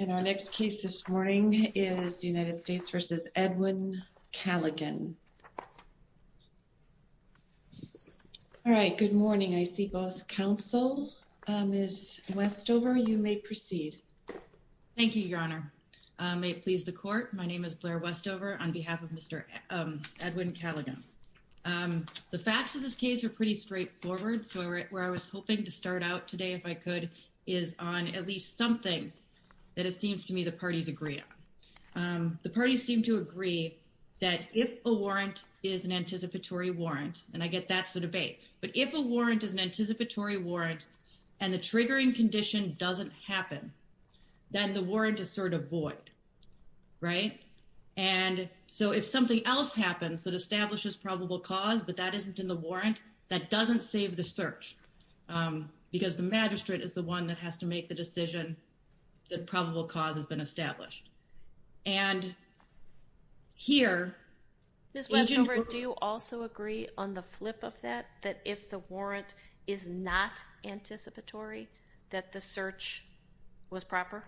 And our next case this morning is United States v. Edwin Calligan. All right, good morning. I see both counsel. Ms. Westover, you may proceed. Thank you, Your Honor. May it please the court, my name is Blair Westover on behalf of Mr. Edwin Calligan. The facts of this case are pretty straightforward, so where I was hoping to start out today, if I could, is on at least something that it seems to me the parties agree on. The parties seem to agree that if a warrant is an anticipatory warrant, and I get that's the debate, but if a warrant is an anticipatory warrant and the triggering condition doesn't happen, then the warrant is sort of void, right? And so if something else happens that establishes probable cause, but that isn't in the warrant, that doesn't save the search because the magistrate is the one that has to make the decision that probable cause has been established. And here... Ms. Westover, do you also agree on the flip of that, that if the warrant is not anticipatory, that the search was proper?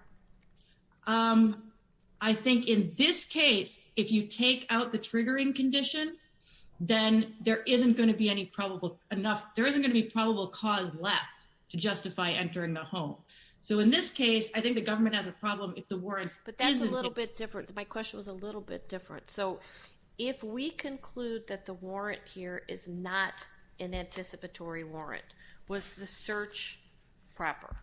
I think in this case, if you take out the triggering condition, then there isn't going to be any probable enough, there isn't going to be probable cause left to justify entering the home. So in this case, I think the government has a problem if the warrant... But that's a little bit different. My question was a little bit different. So if we conclude that the warrant here is not an anticipatory warrant, was the search proper?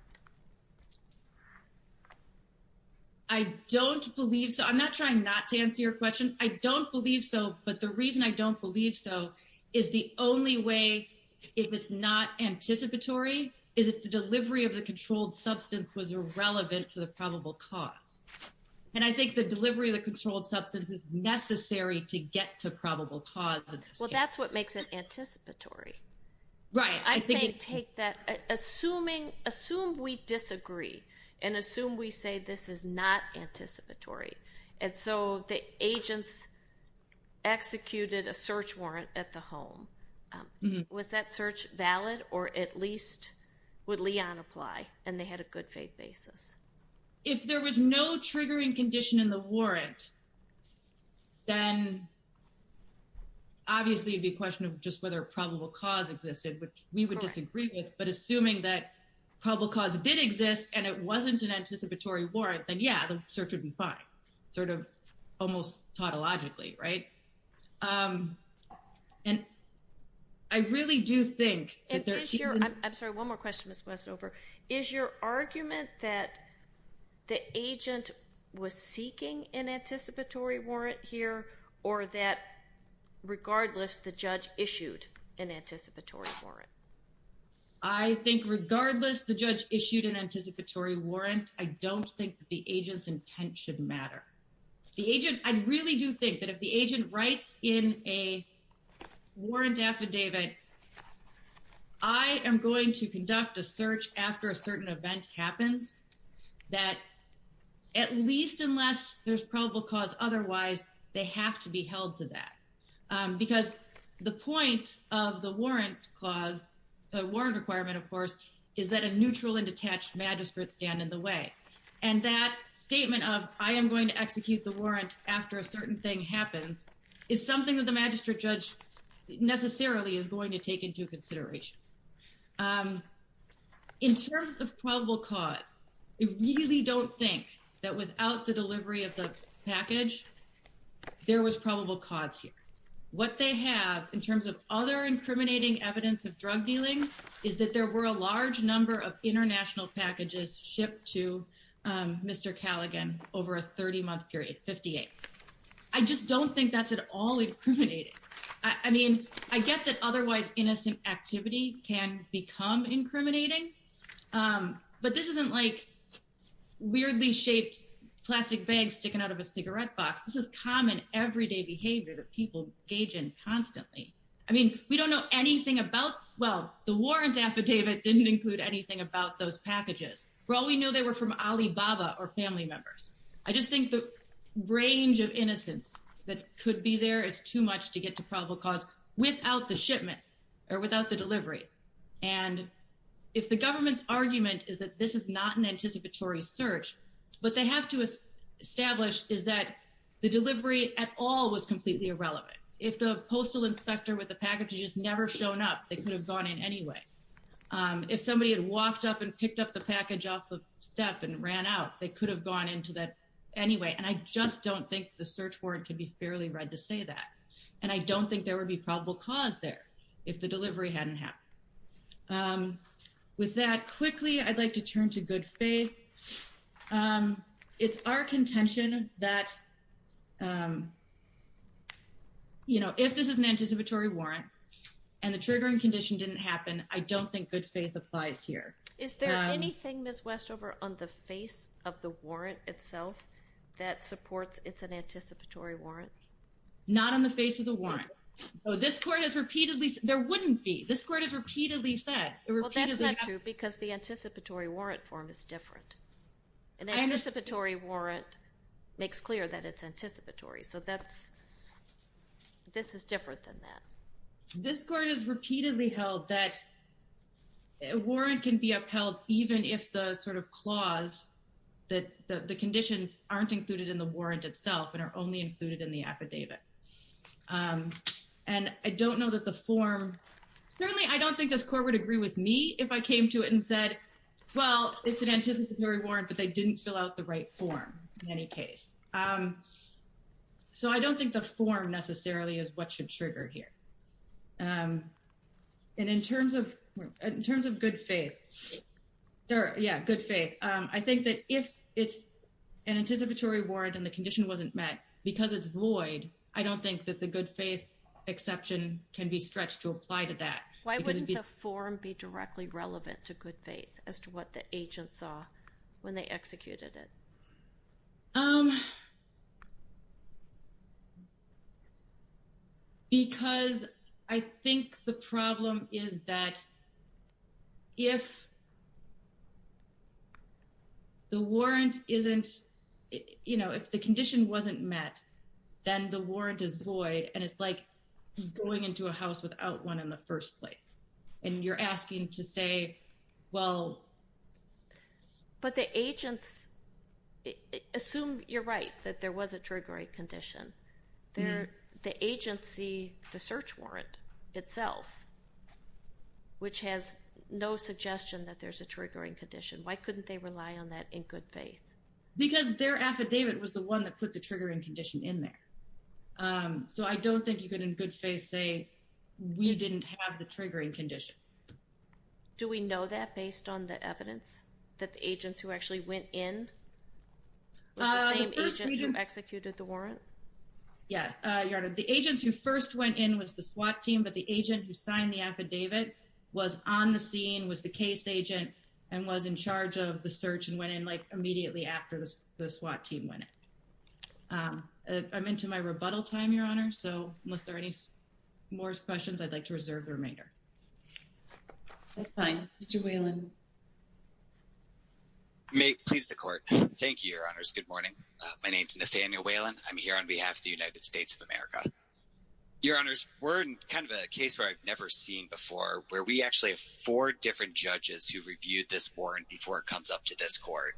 I don't believe so. I'm not trying not to answer your question. I don't believe so, but the reason I don't believe so is the only way, if it's not anticipatory, is if the delivery of the controlled substance was irrelevant to the probable cause. And I think the delivery of the controlled substance is necessary to get to probable cause. Well, that's what makes it anticipatory. Right. I think... I'm saying take that... Assume we disagree and assume we say this is not anticipatory. And so the agents executed a search warrant at the home. Was that search valid? Or at least would Leon apply and they had a good faith basis? If the search warrant was not an anticipatory warrant, then obviously it'd be a question of just whether probable cause existed, which we would disagree with. But assuming that probable cause did exist and it wasn't an anticipatory warrant, then yeah, the search would be fine. Sort of almost tautologically, right? And I really do think... And is your... I'm sorry, one more question, Ms. Westover. Is your argument that the agent was seeking an anticipatory warrant here or that regardless the judge issued an anticipatory warrant? I think regardless the judge issued an anticipatory warrant, I don't think the agent's intent should matter. The agent... I really do think that if the agent writes in a warrant affidavit, I am going to conduct a search after a certain event happens, that at least unless there's probable cause otherwise, they have to be held to that. Because the point of the warrant clause, the warrant requirement, of course, is that a neutral and detached magistrate stand in the way. And that statement of, I am going to execute the warrant after a certain thing happens, is something that the magistrate judge necessarily is going to take into consideration. In terms of probable cause, I really don't think that without the delivery of the package, there was probable cause here. What they have in terms of other incriminating evidence of drug dealing is that there were a large number of international packages shipped to Mr. Callaghan over a 30-month period, 58. I just don't think that's at all incriminating. I mean, I get that otherwise innocent activity can become incriminating, but this isn't like weirdly shaped plastic bags sticking out of a cigarette box. This is common everyday behavior that people engage in constantly. I mean, we don't know anything about, well, the warrant affidavit didn't include anything about those packages. For all we know, they were from Alibaba or family members. I just think the range of innocence that could be there is too much to get to probable cause without the shipment or without the delivery. And if the government's argument is that this is not an anticipatory search, what they have to establish is that the delivery at all was completely irrelevant. If the postal inspector with the package had just never shown up, they could have gone in anyway. If somebody had walked up and picked up the package off the step and ran out, they could have gone into that anyway. And I just don't think the search warrant can be fairly read to say that. And I don't think there would be probable cause there if the delivery hadn't happened. With that, quickly, I'd like to turn to Good Faith. It's our contention that if this is an anticipatory warrant and the triggering condition didn't happen, I don't think Good Faith applies here. Is there anything, Ms. Westover, on the face of the warrant itself that supports it's an anticipatory warrant? Not on the face of the warrant. This court has repeatedly said there wouldn't be. This court has repeatedly said. Well, that's not true because the anticipatory warrant form is different. An anticipatory warrant makes clear that it's anticipatory. So this is different than that. This court has repeatedly held that a warrant can be upheld even if the sort of clause that the conditions aren't included in the warrant itself and are only included in the affidavit. And I don't know that the form, certainly I don't think this court would agree with me if I came to it and said, well, it's an anticipatory warrant, but they didn't fill out the right form in any case. So I don't think the form necessarily is what should trigger here. And in terms of Good Faith, I think that if it's an anticipatory warrant and the condition wasn't met, because it's void, I don't think that the Good Faith exception can be stretched to apply to that. Why wouldn't the form be directly relevant to what the agent saw when they executed it? Because I think the problem is that if the warrant isn't, you know, if the condition wasn't met, then the warrant is void. And it's like going into a house without one in the first place. And you're asking to say, well... But the agents, assume you're right, that there was a triggering condition. The agency, the search warrant itself, which has no suggestion that there's a triggering condition, why couldn't they rely on that in Good Faith? Because their affidavit was the one that put the triggering condition in there. So I don't think you could, in Good Faith, say we didn't have the triggering condition. Do we know that based on the evidence that the agents who actually went in? Was the same agent who executed the warrant? Yeah, Your Honor. The agents who first went in was the SWAT team, but the agent who signed the affidavit was on the scene, was the case agent, and was in charge of the search and went in immediately after the SWAT team went in. I'm into my rebuttal time, Your Honor, so unless there are any more questions, I'd like to reserve the remainder. That's fine. Mr. Whelan. Please, the Court. Thank you, Your Honors. Good morning. My name is Nathaniel Whelan. I'm here on behalf of the United States of America. Your Honors, we're in kind of a case where I've never seen before, where we actually have four different judges who reviewed this warrant before it comes up to this Court,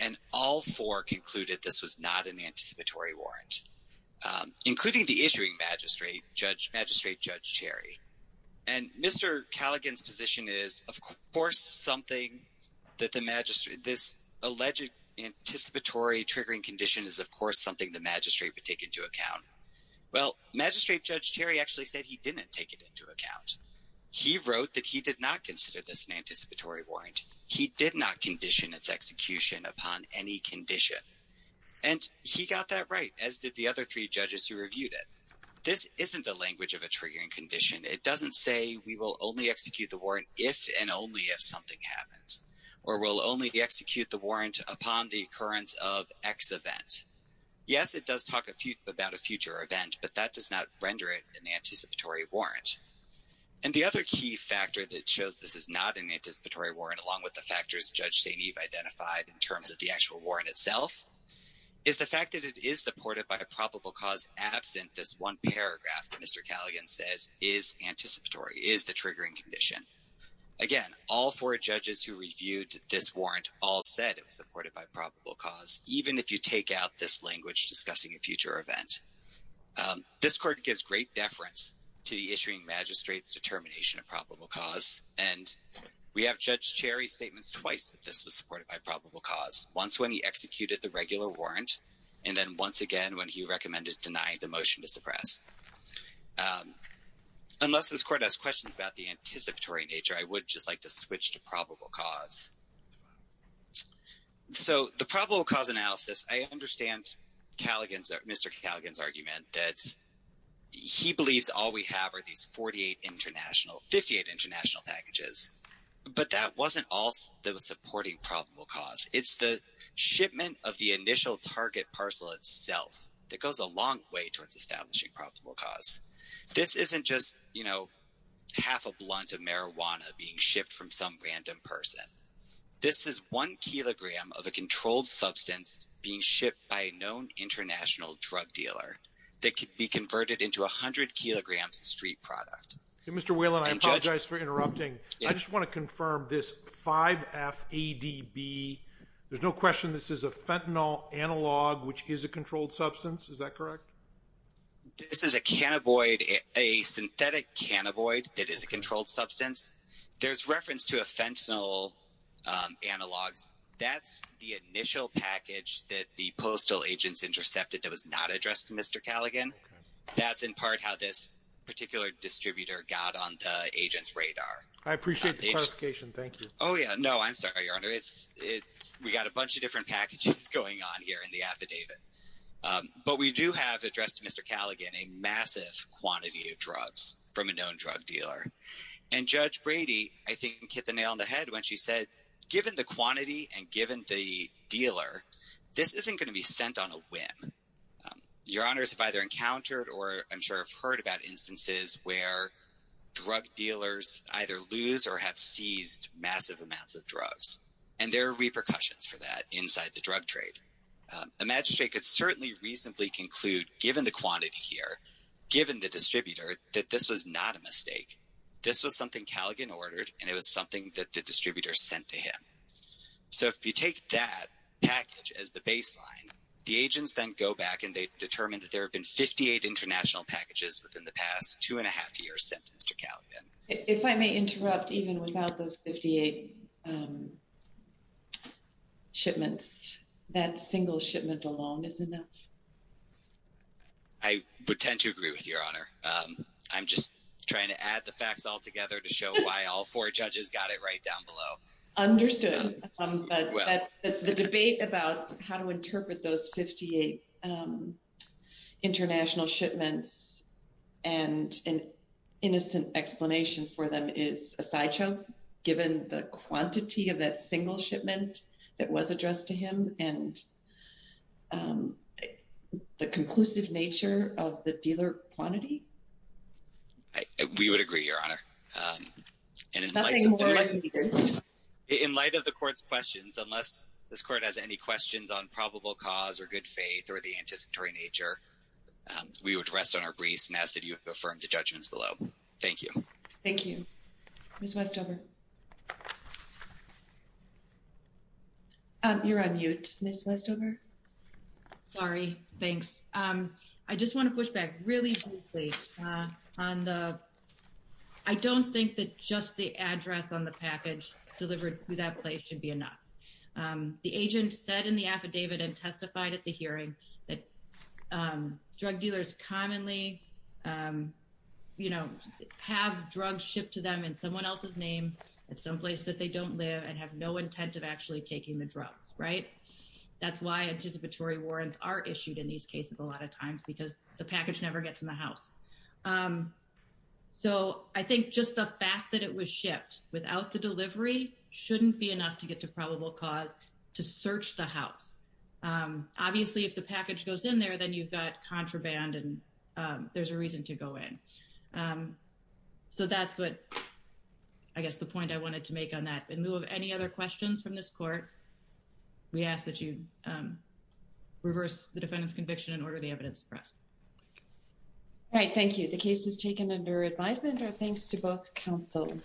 and all four concluded this was not an anticipatory warrant, including the issuing magistrate, Judge Terry. And Mr. Callaghan's position is, of course, something that this alleged anticipatory triggering condition is, of course, something the magistrate would take into account. Well, Magistrate Judge Terry actually said he didn't take it into account. He wrote that he did not consider this an anticipatory warrant. He did not condition its execution upon any condition. And he got that right, as did the other three judges who reviewed it. This isn't the language of a triggering condition. It doesn't say we will only execute the warrant if and only if something happens, or we'll only execute the warrant upon the occurrence of X event. Yes, it does talk about a future event, but that does not render it an anticipatory warrant. And the other key factor that shows this is not an anticipatory warrant, along with the factors Judge St. Eve identified in terms of the actual warrant itself, is the fact that it is supported by a probable cause absent this one paragraph that Mr. Callaghan says is anticipatory, is the triggering condition. Again, all four judges who reviewed this warrant all said it was supported by probable cause, even if you take out this language discussing a future event. This court gives great deference to the issuing magistrate's determination of probable cause. And we have Judge Cherry's statements twice that this was supported by probable cause, once when he executed the regular warrant, and then once again when he recommended denying the motion to suppress. Unless this court has questions about the anticipatory nature, I would just like to switch to probable cause. So, the probable cause analysis, I understand Mr. Callaghan's argument that he believes all we have are these 48 international, 58 international packages, but that wasn't all that was supporting probable cause. It's the shipment of the initial target parcel itself that goes a long way towards establishing probable cause. This isn't just, you know, half a blunt of marijuana being shipped from some random person. This is one kilogram of a controlled substance being shipped by a known international drug dealer that could be converted into 100 kilograms of street product. Mr. Whelan, I apologize for interrupting. I just want to confirm this 5FADB, there's no question this is a fentanyl analog, which is a controlled substance, is that correct? This is a cannaboid, a synthetic cannaboid that is a controlled substance. There's reference to a fentanyl analogs. That's the initial package that the postal agents intercepted that was not addressed to Mr. Callaghan. That's in part how this particular distributor got on the agent's radar. I appreciate the clarification. Thank you. Oh, yeah. No, I'm sorry, Your Honor. It's, we got a bunch of different packages going on here in the affidavit. But we do have addressed to Mr. Callaghan a massive quantity of drugs from a known drug dealer. And Judge Brady, I think, hit the nail on the head when she said, given the quantity and given the dealer, this isn't going to be sent on a whim. Your Honors have either encountered or I'm sure have heard about instances where drug dealers either lose or have seized massive amounts of drugs. And there are repercussions for that inside the drug trade. The magistrate could certainly reasonably conclude, given the quantity here, given the distributor, that this was not a mistake. This was something Callaghan ordered, and it was something that the distributor sent to him. So if you take that package as the baseline, the agents then go back and they determine that there have been 58 international packages within the past two and a half years sent to Callaghan. If I may interrupt, even without those 58 shipments, that single shipment alone is enough. I would tend to agree with Your Honor. I'm just trying to add the facts all together to show why all four judges got it right down below. Understood. The debate about how to interpret those 58 international shipments and an innocent explanation for them is a sideshow, given the quantity of that single shipment that was addressed to him and the conclusive nature of the dealer quantity. We would agree, Your Honor. In light of the Court's questions, unless this Court has any questions on probable cause or good faith or the anticipatory nature, we would rest on our briefs and ask that you affirm the judgments below. Thank you. Thank you. Ms. Westover. You're on mute, Ms. Westover. Sorry. Thanks. I just want to push back really briefly on the—I don't think that just the address on the package delivered to that place should be enough. The agent said in the affidavit and testified at the hearing that drug dealers commonly have drugs shipped to them in someone else's name at some place that they don't live and have no intent of actually taking the drugs, right? That's why anticipatory warrants are issued in these cases a lot of times, because the package never gets in the house. So I think just the fact that it was shipped without the delivery shouldn't be enough to get to probable cause to search the house. Obviously, if the package goes in there, then you've got contraband, and there's a reason to go in. So that's what—I guess the point I wanted to make on that. In lieu of any other questions from this Court, we ask that you reverse the defendant's conviction and order the evidence pressed. All right. Thank you. The case is taken under advisement. Our thanks to both counsel.